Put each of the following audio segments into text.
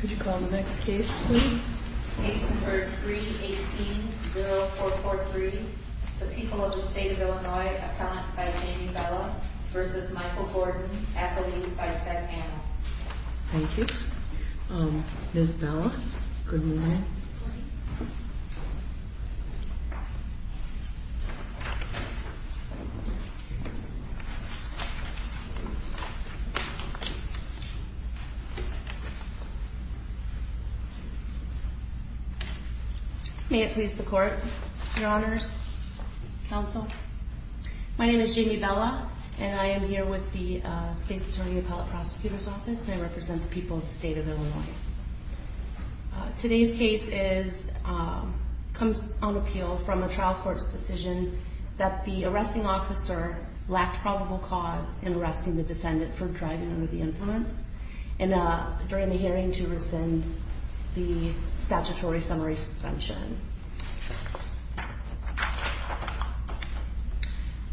Could you call the next case please? Case number 318-0443, the people of the state of Illinois, appellant by Jamie Bella v. Michael Gordon, athlete by Seth Annell. Thank you. Ms. Bella, good morning. May it please the court, your honors, counsel. My name is Jamie Bella and I am here with the State's Attorney Appellate Prosecutor's Office and I represent the people of the state of Illinois. Today's case comes on appeal from a trial court's decision that the arresting officer lacked probable cause in arresting the defendant for driving under the influence during the hearing to rescind the statutory summary suspension.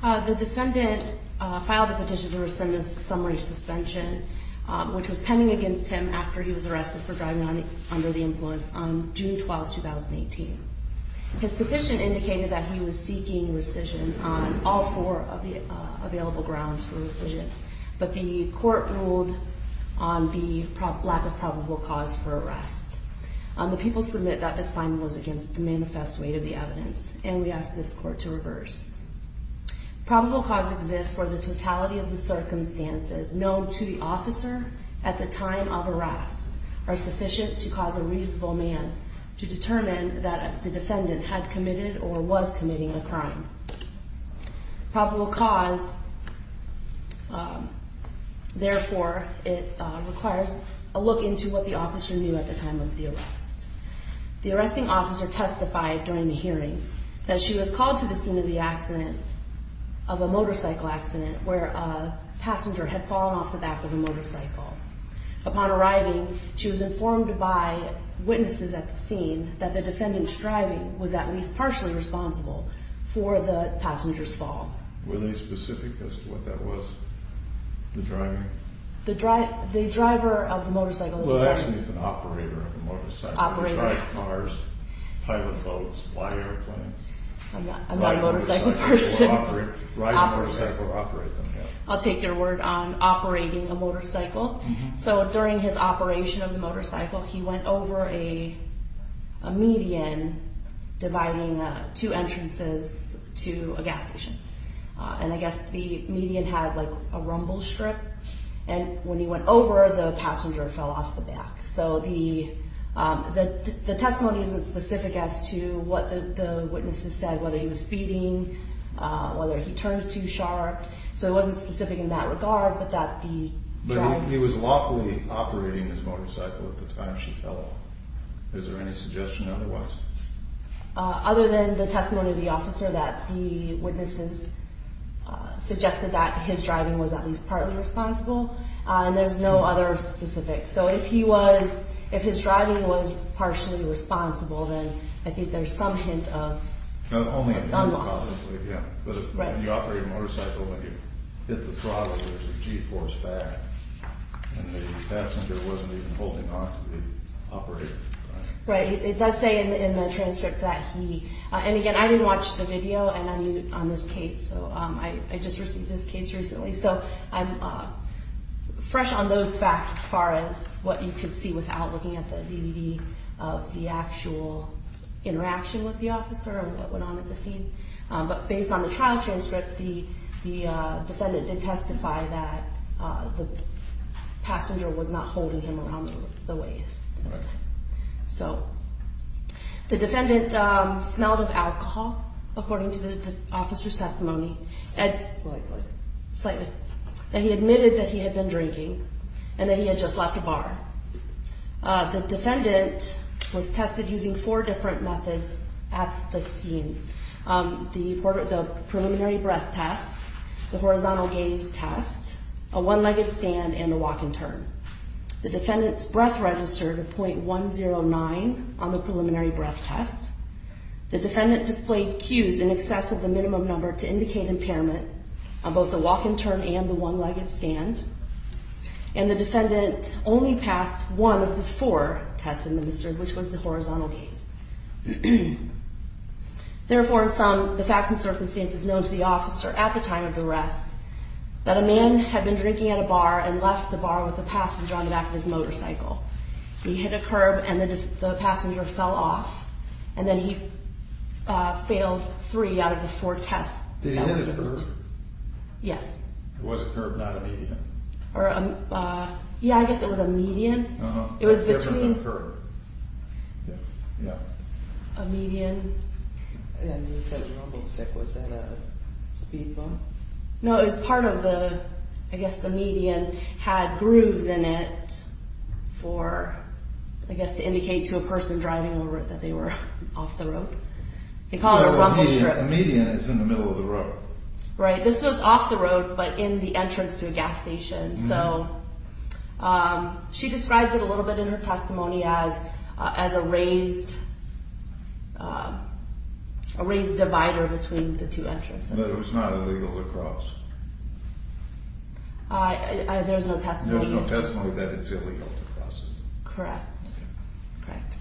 The defendant filed a petition to rescind the summary suspension which was pending against him after he was arrested for driving under the influence on June 12, 2018. His petition indicated that he was seeking rescission on all four of the available grounds for rescission, but the court ruled on the lack of probable cause for arrest. The people submit that this finding was against the manifest weight of the evidence and we ask this court to reverse. Probable cause exists for the totality of the circumstances known to the officer at the time of arrest are sufficient to cause a reasonable man to determine that the defendant had committed or was committing a crime. Probable cause, therefore, it requires a look into what the officer knew at the time of the arrest. The arresting officer testified during the hearing that she was called to the scene of the accident of a motorcycle accident where a passenger had fallen off the back of a motorcycle. Upon arriving, she was informed by witnesses at the scene that the defendant's driving was at least partially responsible for the passenger's fall. Were they specific as to what that was? The driver? The driver of the motorcycle. Well, actually, it's an operator of the motorcycle. Operator. Drive cars, pilot boats, fly airplanes. I'm not a motorcycle person. Ride a motorcycle or operate them, yes. I'll take your word on operating a motorcycle. So during his operation of the motorcycle, he went over a median dividing two entrances to a gas station. And I guess the median had like a rumble strip. And when he went over, the passenger fell off the back. So the testimony isn't specific as to what the witnesses said, whether he was speeding, whether he turned too sharp. So it wasn't specific in that regard. But that he was lawfully operating his motorcycle at the time she fell off. Is there any suggestion otherwise? Other than the testimony of the officer that the witnesses suggested that his driving was at least partly responsible. And there's no other specifics. So if he was, if his driving was partially responsible, then I think there's some hint of unlawful. But when you operate a motorcycle, when you hit the throttle, there's a g-force back. And the passenger wasn't even holding on to the operator. Right. It does say in the transcript that he. And again, I didn't watch the video on this case. So I just received this case recently. So I'm fresh on those facts as far as what you can see without looking at the DVD of the actual interaction with the officer that went on at the scene. But based on the trial transcript, the defendant did testify that the passenger was not holding him around the waist. So the defendant smelled of alcohol, according to the officer's testimony. Slightly. Slightly. And he admitted that he had been drinking and that he had just left a bar. The defendant was tested using four different methods at the scene. The preliminary breath test, the horizontal gaze test, a one-legged stand, and a walk and turn. The defendant's breath registered a .109 on the preliminary breath test. The defendant displayed cues in excess of the minimum number to indicate impairment on both the walk and turn and the one-legged stand. And the defendant only passed one of the four tests administered, which was the horizontal gaze. Therefore, in some of the facts and circumstances known to the officer at the time of the arrest, that a man had been drinking at a bar and left the bar with a passenger on the back of his motorcycle. He hit a curb and the passenger fell off. And then he failed three out of the four tests. Did he hit a curb? Yes. It was a curb, not a median. Yeah, I guess it was a median. Uh-huh. It was between. It was a curb. Yeah. Yeah. A median. And you said a rumblestick. Was that a speed bump? No, it was part of the, I guess the median had grooves in it for, I guess, to indicate to a person driving over it that they were off the road. They call it a rumblestick. So a median is in the middle of the road. Right. This was off the road, but in the entrance to a gas station. So she describes it a little bit in her testimony as a raised divider between the two entrances. But it was not illegal to cross. There's no testimony. There's no testimony that it's illegal to cross. Correct. Correct.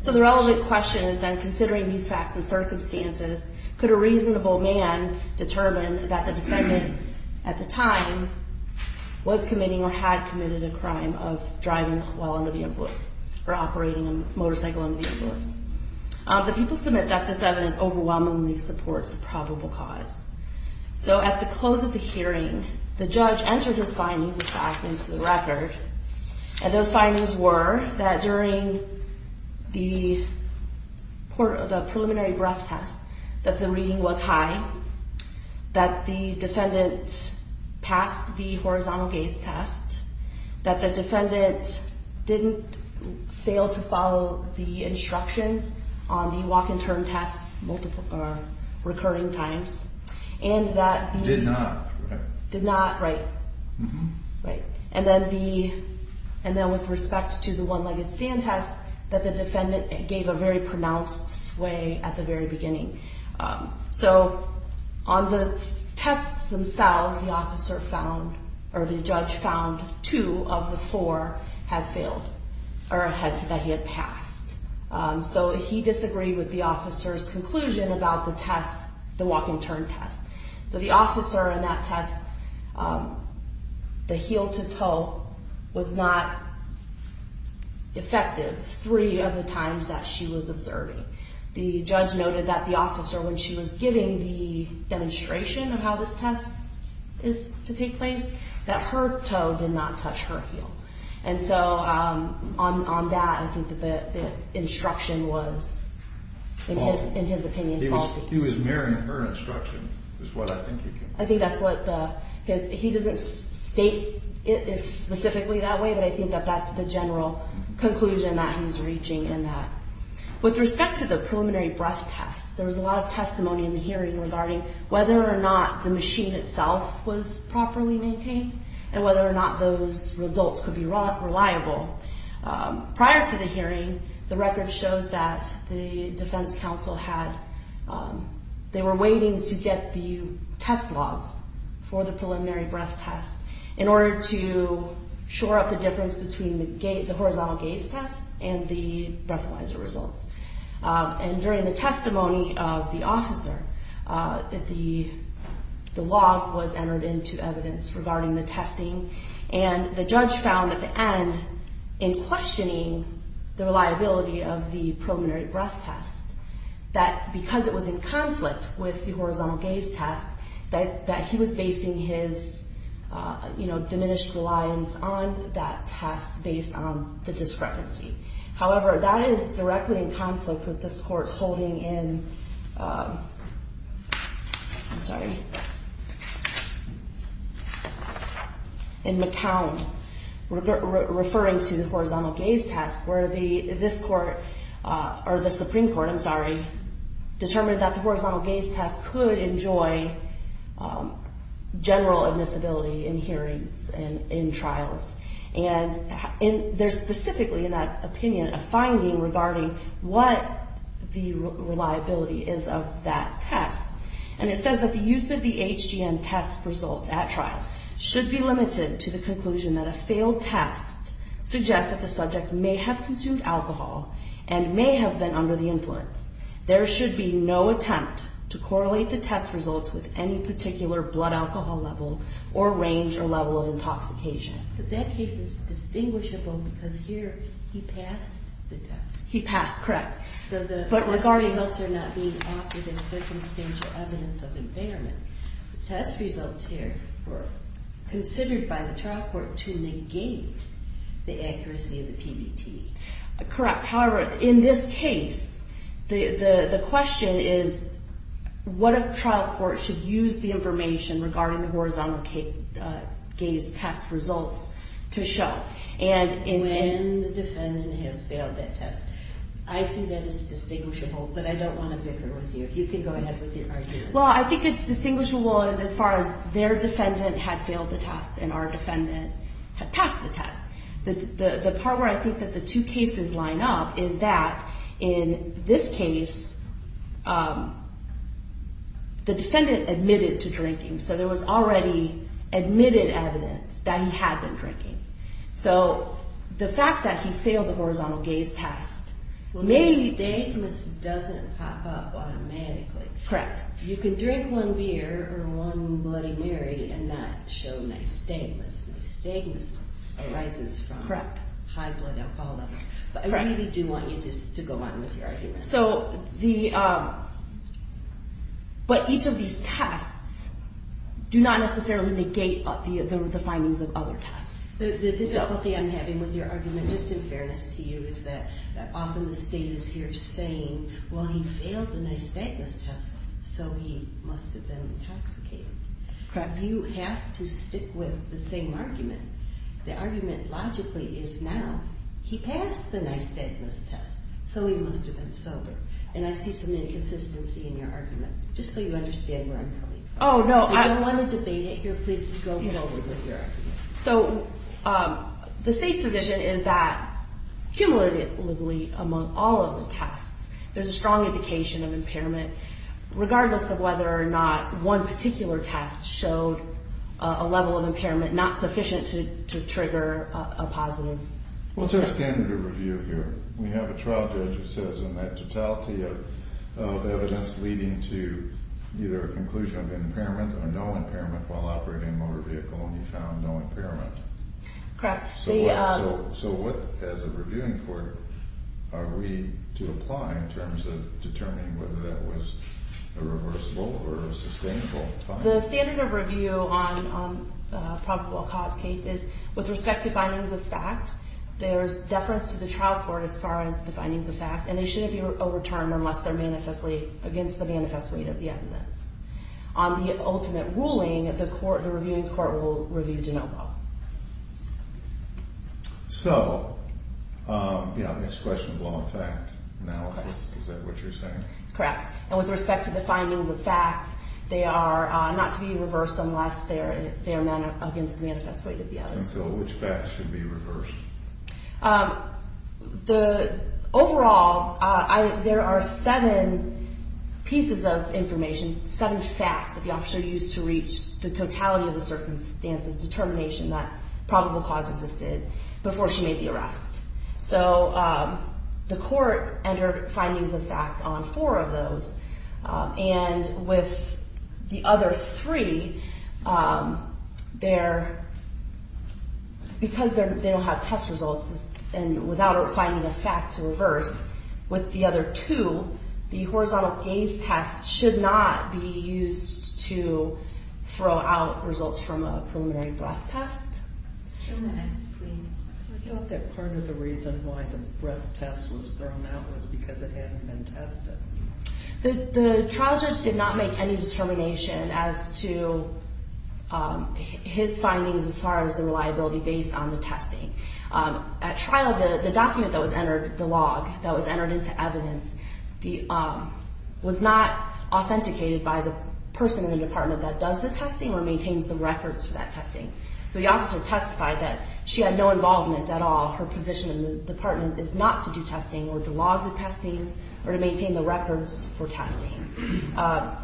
So the relevant question is then, considering these facts and circumstances, could a reasonable man determine that the defendant at the time was committing or had committed a crime of driving while under the influence or operating a motorcycle under the influence? The people submit that this evidence overwhelmingly supports the probable cause. So at the close of the hearing, the judge entered his findings of fact into the record, and those findings were that during the preliminary breath test that the reading was high, that the defendant passed the horizontal gaze test, that the defendant didn't fail to follow the instructions on the walk-and-turn test recurring times, and that the... Did not, right? Did not, right. Mm-hmm. Right. And then with respect to the one-legged stand test, that the defendant gave a very pronounced sway at the very beginning. So on the tests themselves, the judge found two of the four had failed or that he had passed. So he disagreed with the officer's conclusion about the walk-and-turn test. So the officer in that test, the heel-to-toe was not effective three of the times that she was observing. The judge noted that the officer, when she was giving the demonstration of how this test is to take place, that her toe did not touch her heel. And so on that, I think the instruction was, in his opinion, faulty. He was mirroring her instruction is what I think you can... I think that's what the... Because he doesn't state it specifically that way, but I think that that's the general conclusion that he's reaching in that. With respect to the preliminary breath test, there was a lot of testimony in the hearing regarding whether or not the machine itself was properly maintained and whether or not those results could be reliable. Prior to the hearing, the record shows that the defense counsel had... They were waiting to get the test logs for the preliminary breath test in order to shore up the difference between the horizontal gaze test and the breathalyzer results. And during the testimony of the officer, the log was entered into evidence regarding the testing, and the judge found at the end, in questioning the reliability of the preliminary breath test, that because it was in conflict with the horizontal gaze test, that he was basing his diminished reliance on that test based on the discrepancy. However, that is directly in conflict with this court's holding in... I'm sorry. In McCown, referring to the horizontal gaze test, where this court, or the Supreme Court, I'm sorry, determined that the horizontal gaze test could enjoy general admissibility in hearings and in trials. And there's specifically, in that opinion, a finding regarding what the reliability is of that test. And it says that the use of the HGM test results at trial should be limited to the conclusion that a failed test suggests that the subject may have consumed alcohol and may have been under the influence. There should be no attempt to correlate the test results with any particular blood alcohol level or range or level of intoxication. But that case is distinguishable because here he passed the test. He passed, correct. So the test results are not being offered as circumstantial evidence of impairment. The test results here were considered by the trial court to negate the accuracy of the PBT. Correct. However, in this case, the question is what trial court should use the information regarding the horizontal gaze test results to show. And when the defendant has failed that test. I think that is distinguishable, but I don't want to bicker with you. You can go ahead with your argument. Well, I think it's distinguishable as far as their defendant had failed the test and our defendant had passed the test. The part where I think that the two cases line up is that in this case, the defendant admitted to drinking. So there was already admitted evidence that he had been drinking. So the fact that he failed the horizontal gaze test may... The statement doesn't pop up automatically. Correct. You can drink one beer or one Bloody Mary and not show nystagmus. Nystagmus arises from high blood alcohol levels. But I really do want you to go on with your argument. But each of these tests do not necessarily negate the findings of other tests. The difficulty I'm having with your argument, just in fairness to you, is that often the state is here saying, well, he failed the nystagmus test, so he must have been intoxicated. Correct. You have to stick with the same argument. The argument logically is now he passed the nystagmus test, so he must have been sober. And I see some inconsistency in your argument, just so you understand where I'm coming from. Oh, no. I don't want to debate it. You're pleased to go forward with your argument. So the state's position is that cumulatively among all of the tests, there's a strong indication of impairment, regardless of whether or not one particular test showed a level of impairment not sufficient to trigger a positive test. Well, it's our standard of review here. We have a trial judge who says in that totality of evidence leading to either a conclusion of impairment or no impairment while operating a motor vehicle and he found no impairment. Correct. So what, as a reviewing court, are we to apply in terms of determining whether that was a reversible or a sustainable finding? The standard of review on probable cause cases, with respect to findings of fact, there's deference to the trial court as far as the findings of fact, and they shouldn't be overturned unless they're manifestly against the manifest weight of the evidence. On the ultimate ruling, the court, the reviewing court, will review de novo. So, yeah, next question, law and fact analysis. Is that what you're saying? Correct. And with respect to the findings of fact, they are not to be reversed unless they're against the manifest weight of the evidence. And so which facts should be reversed? Overall, there are seven pieces of information, seven facts that the officer used to reach the totality of the circumstances, determination that probable cause existed before she made the arrest. So the court entered findings of fact on four of those, and with the other three, because they don't have test results, and without finding a fact to reverse with the other two, the horizontal gaze test should not be used to throw out results from a preliminary breath test. Two minutes, please. I thought that part of the reason why the breath test was thrown out was because it hadn't been tested. The trial judge did not make any determination as to his findings as far as the reliability based on the testing. At trial, the document that was entered, the log that was entered into evidence, was not authenticated by the person in the department that does the testing or maintains the records for that testing. So the officer testified that she had no involvement at all. Her position in the department is not to do testing or to log the testing or to maintain the records for testing.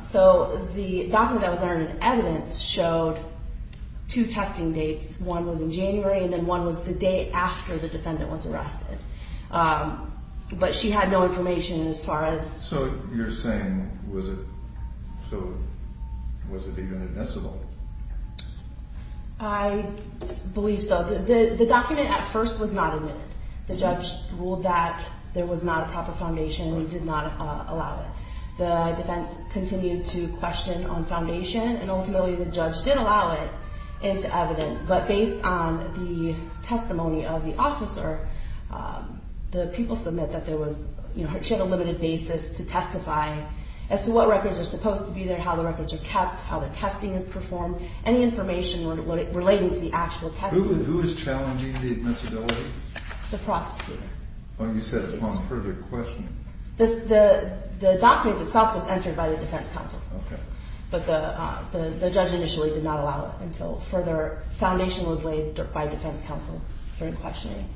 So the document that was entered in evidence showed two testing dates. One was in January, and then one was the day after the defendant was arrested. But she had no information as far as. So you're saying was it, so was it even admissible? I believe so. The document at first was not admitted. The judge ruled that there was not a proper foundation and did not allow it. The defense continued to question on foundation, and ultimately the judge did allow it into evidence. But based on the testimony of the officer, the people submit that there was, you know, she had a limited basis to testify as to what records are supposed to be there, how the records are kept, how the testing is performed, any information relating to the actual testing. Who is challenging the admissibility? The prosecutor. Oh, you said upon further questioning. The document itself was entered by the defense counsel. But the judge initially did not allow it until further. Foundation was laid by defense counsel during questioning.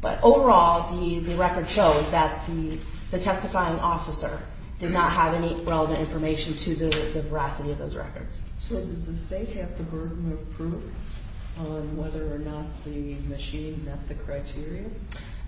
But overall, the record shows that the testifying officer did not have any relevant information to the veracity of those records. So did the state have the burden of proof on whether or not the machine met the criteria?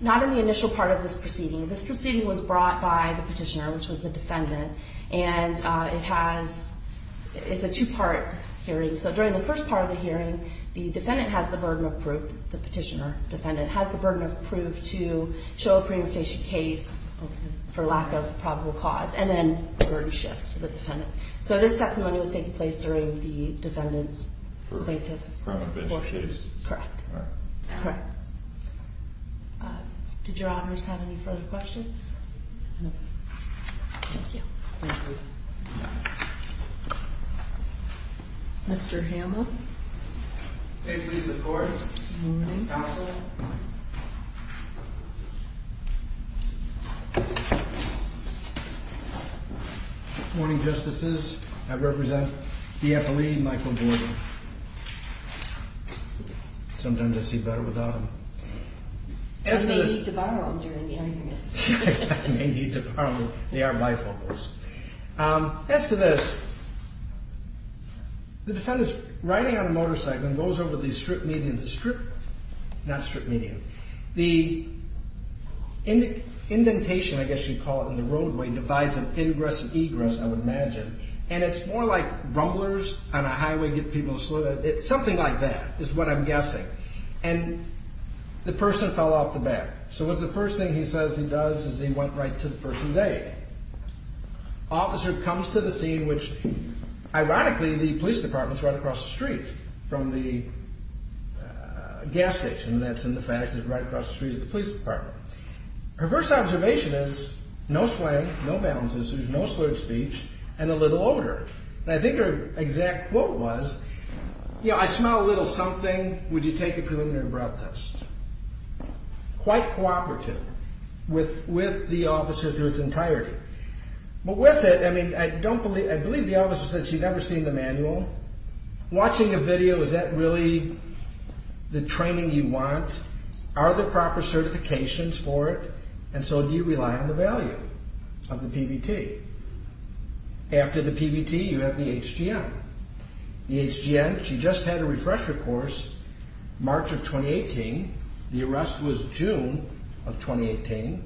Not in the initial part of this proceeding. This proceeding was brought by the petitioner, which was the defendant, and it has – it's a two-part hearing. So during the first part of the hearing, the defendant has the burden of proof, the petitioner, defendant, has the burden of proof to show a preemptation case for lack of probable cause, and then the verdict shifts to the defendant. So this testimony was taking place during the defendant's latest court hearing. Correct. All right. Correct. Did your honors have any further questions? No. Thank you. Thank you. Mr. Hamlin. May it please the Court. Good morning. Counsel. Good morning, Justices. I represent the FLE, Michael Gordon. Sometimes I see better without him. I may need to borrow him during the hearing. I may need to borrow him. They are bifocals. As to this, the defendant's riding on a motorcycle and goes over the strip median. The strip – not strip median. The indentation, I guess you'd call it, in the roadway divides an ingress and egress, I would imagine, and it's more like rumblers on a highway get people to slow down. It's something like that is what I'm guessing. And the person fell off the back. So what's the first thing he says he does is he went right to the person's aid. Officer comes to the scene, which, ironically, the police department is right across the street from the gas station. That's in the fad. It's right across the street from the police department. Her first observation is no sway, no balances, there's no slurred speech, and a little odor. I think her exact quote was, you know, I smell a little something. Would you take a preliminary breath test? Quite cooperative with the officer to its entirety. But with it, I mean, I don't believe – the officer said she'd never seen the manual. Watching a video, is that really the training you want? Are there proper certifications for it? And so do you rely on the value of the PBT? After the PBT, you have the HGM. The HGM, she just had a refresher course, March of 2018. The arrest was June of 2018.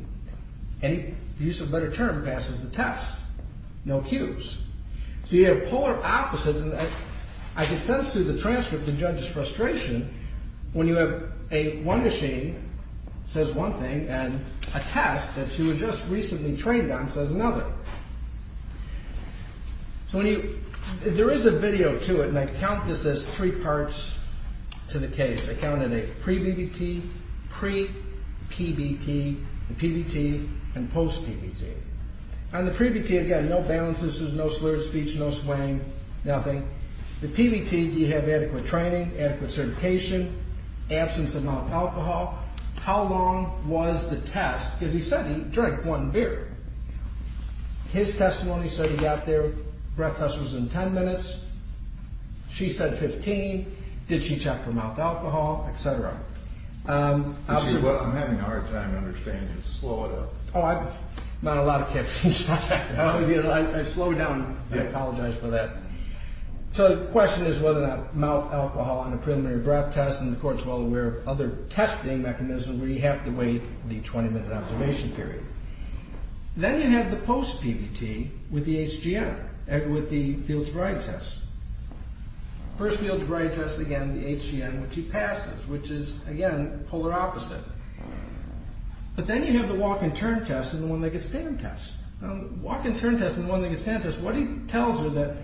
Any use of a better term passes the test. No cues. So you have polar opposites, and I can sense through the transcript the judge's frustration when you have one machine says one thing and a test that she was just recently trained on says another. So when you – there is a video to it, and I count this as three parts to the case. I counted a pre-BBT, pre-PBT, a PBT, and post-PBT. On the pre-PBT, again, no balances, no slurred speech, no slang, nothing. The PBT, do you have adequate training, adequate certification, absence of mouth alcohol? How long was the test? Because he said he drank one beer. His testimony said he got there, breath test was in 10 minutes. She said 15. Did she check for mouth alcohol, et cetera? I'm having a hard time understanding it. Slow it up. Not a lot of captions. I slowed down. I apologize for that. So the question is whether or not mouth alcohol and a preliminary breath test and the court's well aware of other testing mechanisms, where you have to wait the 20-minute observation period. Then you have the post-PBT with the HGN, with the Fields-Bride test. First Fields-Bride test, again, the HGN, which he passes, which is, again, polar opposite. But then you have the walk-and-turn test and the one-legged-stand test. The walk-and-turn test and the one-legged-stand test, what he tells her that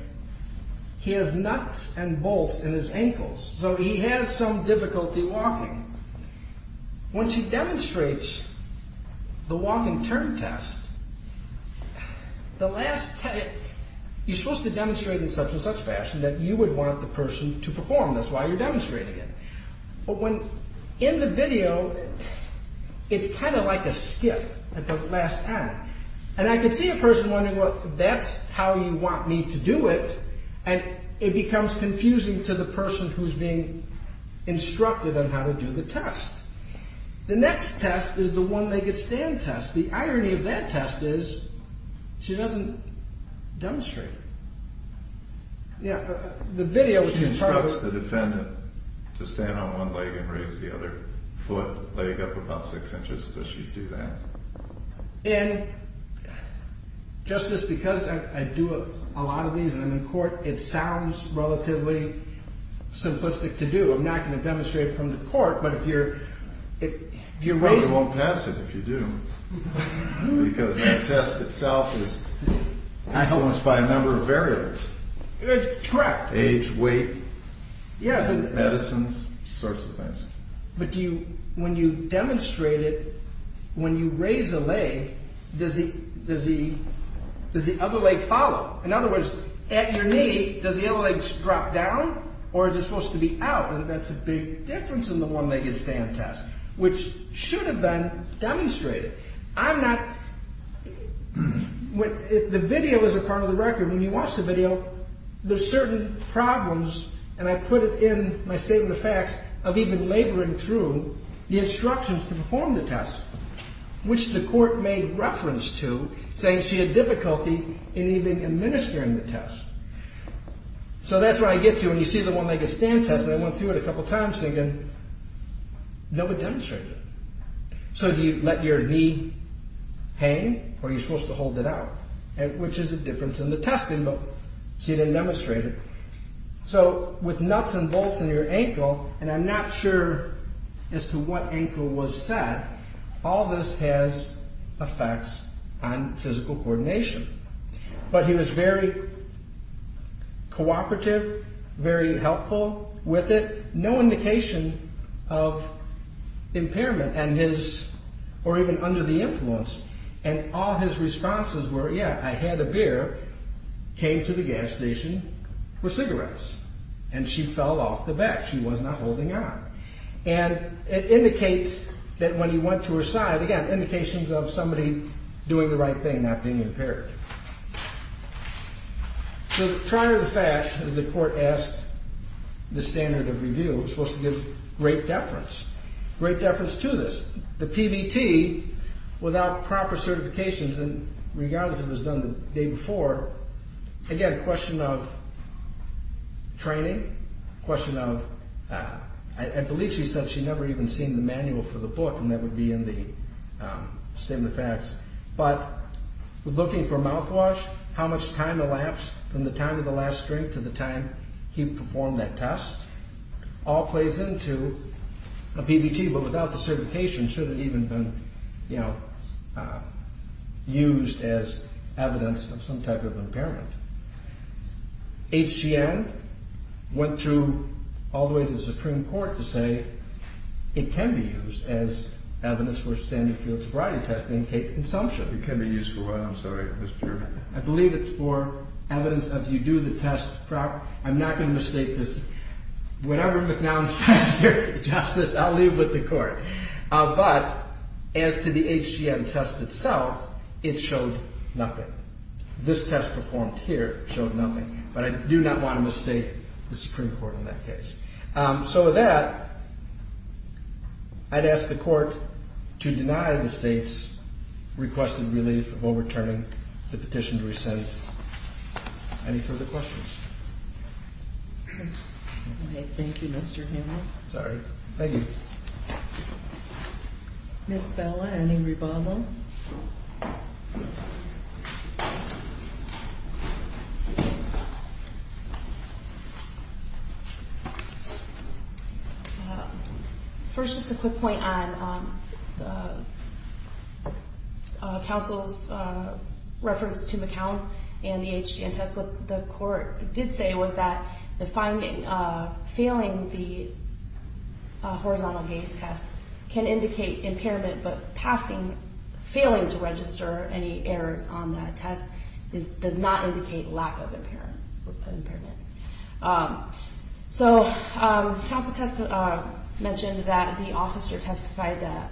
he has nuts and bolts in his ankles, so he has some difficulty walking. Once he demonstrates the walk-and-turn test, you're supposed to demonstrate in such and such fashion that you would want the person to perform. That's why you're demonstrating it. But in the video, it's kind of like a skip at the last time. And I can see a person wondering, well, that's how you want me to do it, and it becomes confusing to the person who's being instructed on how to do the test. The next test is the one-legged-stand test. The irony of that test is she doesn't demonstrate it. The video is in part... She instructs the defendant to stand on one leg and raise the other foot, leg up about six inches, so she'd do that. And just as because I do a lot of these and I'm in court, it sounds relatively simplistic to do. I'm not going to demonstrate it from the court, but if you're raising... Well, you won't pass it if you do, because the test itself is balanced by a number of variables. Correct. Age, weight, medicines, sorts of things. But when you demonstrate it, when you raise a leg, does the other leg follow? In other words, at your knee, does the other leg drop down, or is it supposed to be out? And that's a big difference in the one-legged-stand test, which should have been demonstrated. I'm not... The video is a part of the record. When you watch the video, there's certain problems, and I put it in my Statement of Facts, of even laboring through the instructions to perform the test, which the court made reference to, saying she had difficulty in even administering the test. So that's where I get to, and you see the one-legged-stand test, and I went through it a couple of times thinking, no one demonstrated it. So do you let your knee hang, or are you supposed to hold it out? Which is the difference in the testing, but she didn't demonstrate it. So, with nuts and bolts in your ankle, and I'm not sure as to what ankle was set, all this has effects on physical coordination. But he was very cooperative, very helpful with it, no indication of impairment, or even under the influence, and all his responses were, yeah, I had a beer, came to the gas station for cigarettes, and she fell off the bed, she was not holding on. And it indicates that when you went to her side, again, indications of somebody doing the right thing, not being impaired. So, prior to the fact, as the court asked the standard of review, it was supposed to give great deference, great deference to this. The PBT, without proper certifications, and regardless if it was done the day before, again, question of training, question of, I believe she said she never even seen the manual for the book, and that would be in the statement of facts, but looking for mouthwash, how much time elapsed from the time of the last drink to the time he performed that test, all plays into a PBT, but without the certification, should it even have been used as evidence of some type of impairment. HGN went through all the way to the Supreme Court to say it can be used as evidence for standard field sobriety testing in case of consumption. It can be used for what, I'm sorry, Mr. I believe it's for evidence of you do the test proper. I'm not going to mistake this. Whatever McNown says here, Justice, I'll leave with the court. But, as to the HGN test itself, it showed nothing. This test performed here showed nothing, but I do not want to mistake the Supreme Court in that case. So with that, I'd ask the court to deny the state's requested relief of overturning the petition to rescind. Any further questions? Thank you, Mr. Hamill. Sorry. Thank you. Ms. Bella, any rebuttal? Thank you. First, just a quick point on the counsel's reference to McNown and the HGN test. What the court did say was that failing the horizontal gaze test can indicate impairment, but failing to register any errors on that test does not indicate lack of impairment. So, counsel mentioned that the officer testified that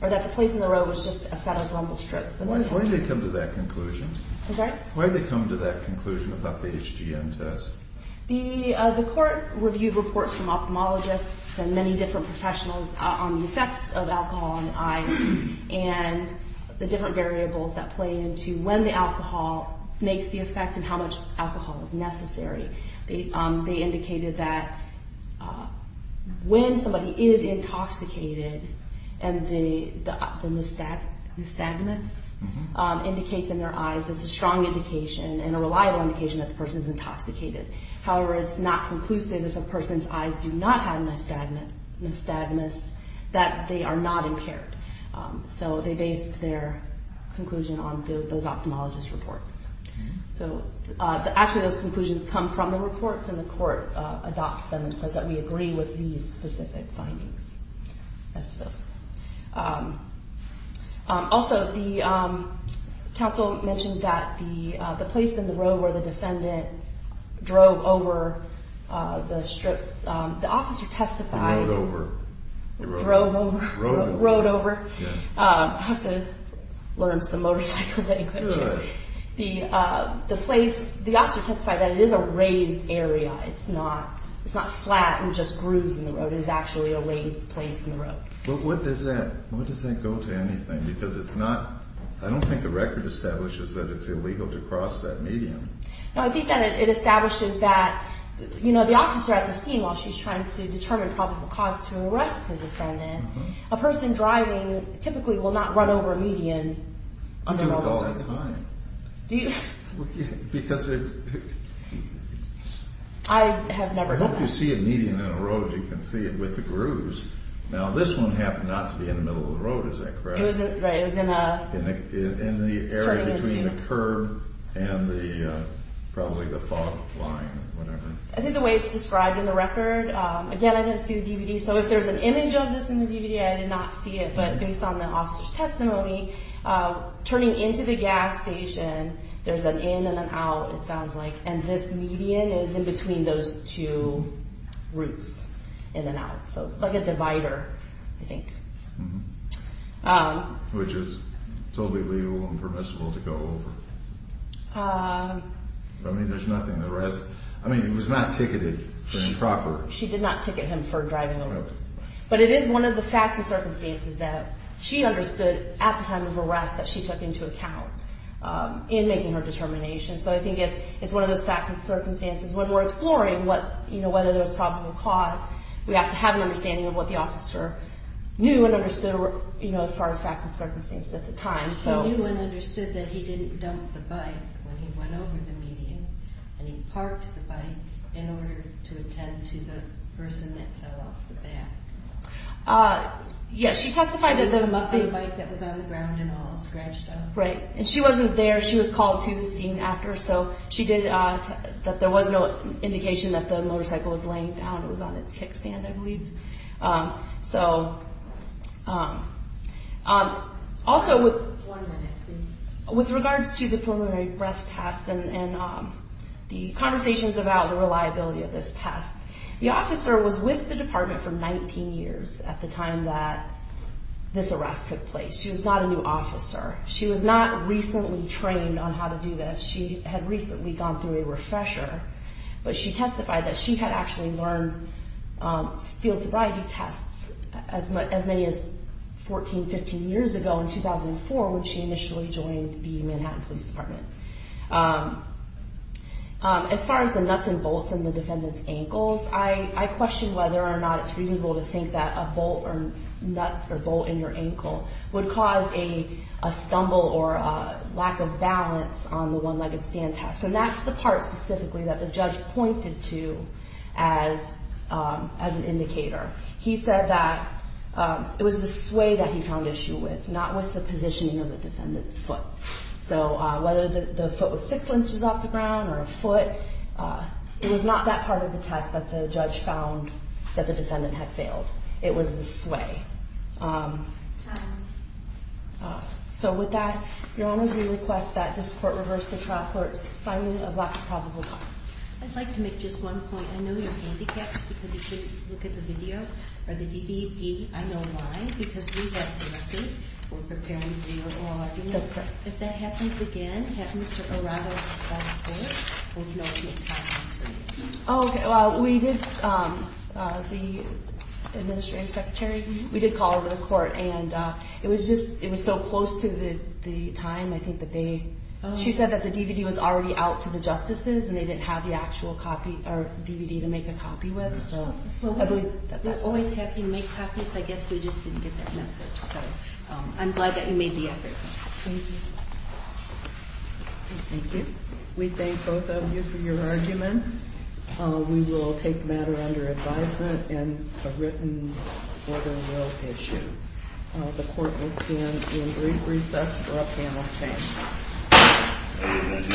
the place on the road was just a set of rumbled strips. Why did they come to that conclusion? Why did they come to that conclusion about the HGN test? reviewed reports from ophthalmologists and many different professionals on the effects of alcohol on the eyes and the different variables that play into when the alcohol makes the effect and how much alcohol is necessary. They indicated that when somebody is intoxicated and the nystagmus indicates in their eyes, it's a strong indication and a reliable indication that the person is intoxicated. However, it's not conclusive if a person's eyes do not have nystagmus that they are not impaired. They based their conclusion on those ophthalmologists' reports. Actually, those conclusions come from the reports and the court adopts them and says that we agree with these specific findings. Also, the counsel mentioned that the place in the road where the defendant drove over the strips, the officer testified drove over rode over I have to learn some motorcycle language here. The officer testified that it is a raised area. It's not flat and just grooves in the road. It is actually a raised place in the road. What does that go to? I don't think the record establishes that it's illegal to cross that medium. I think that it establishes that the officer at the scene, while she's trying to determine probable cause to arrest the defendant, a person driving typically will not run over a median under normal circumstances. I have never done that. I hope you see a median in a road you can see it with the grooves. Now, this one happened not to be in the middle of the road. Is that correct? It was in the area between the curb and probably the fog line. I think the way it's described in the record again, I didn't see the DVD, so if there's an image of this in the DVD, I did not see it, but based on the officer's testimony turning into the gas station there's an in and an out it sounds like, and this median is in between those two routes, in and out. Like a divider, I think. Which is totally illegal and permissible to go over. I mean, there's nothing I mean, it was not ticketed for improper. She did not ticket him for driving over, but it is one of the facts and circumstances that she understood at the time of the arrest that she took into account in making her determination, so I think it's one of those facts and circumstances when we're exploring whether there was probable cause, we have to have an understanding of what the officer knew and understood as far as facts and circumstances at the time. He knew and understood that he didn't dump the bike when he went over the median and he parked the bike in order to attend to the person that fell off the back. Yes, she testified that the bike that was on the ground and all scratched up. Right, and she wasn't there she was called to the scene after, so she did, that there was no indication that the motorcycle was laying down it was on its kickstand, I believe. So also with regards to the preliminary breath test and the conversations about the reliability of this test, the officer was with the department for 19 years at the time that this arrest took place. She was not a new officer. She was not recently trained on how to do this. She had recently gone through a refresher but she testified that she had actually learned field sobriety tests as many as 14, 15 years ago in 2004 when she initially joined the Manhattan Police Department. As far as the nuts and bolts in the defendant's ankles, I question whether or not it's reasonable to think that a bolt or nut or bolt in your ankle would cause a stumble or a lack of balance on the one-legged stand test. And that's the part specifically that the judge pointed to as an indicator. He said that it was the sway that he found issue with, not with the positioning of the defendant's foot. So whether the foot was six inches off the ground or a foot, it was not that part of the test that the judge found that the defendant had failed. It was the sway. So with that, Your Honors, we request that this Court reverse the trial court's finding of lack of probable cause. I'd like to make just one point. I know you're handicapped because you shouldn't look at the video or the DVD. I know why. Because we have to. We're preparing the overall argument. That's correct. If that happens again, have Mr. Arado speak first. We'll know what happens. Oh, okay. Well, we did the Administrative Secretary, we did call her to the court and it was just, it was so close to the time, I think that they, she said that the DVD was already out to the justices and they didn't have the actual copy, or DVD to make a copy with, so. We're always happy to make copies. I guess we just didn't get that message. I'm glad that you made the effort. Thank you. Thank you. We thank both of you for your arguments. We will take the matter under advisement and a written order will issue. The Court will stand in brief recess for a panel of witnesses.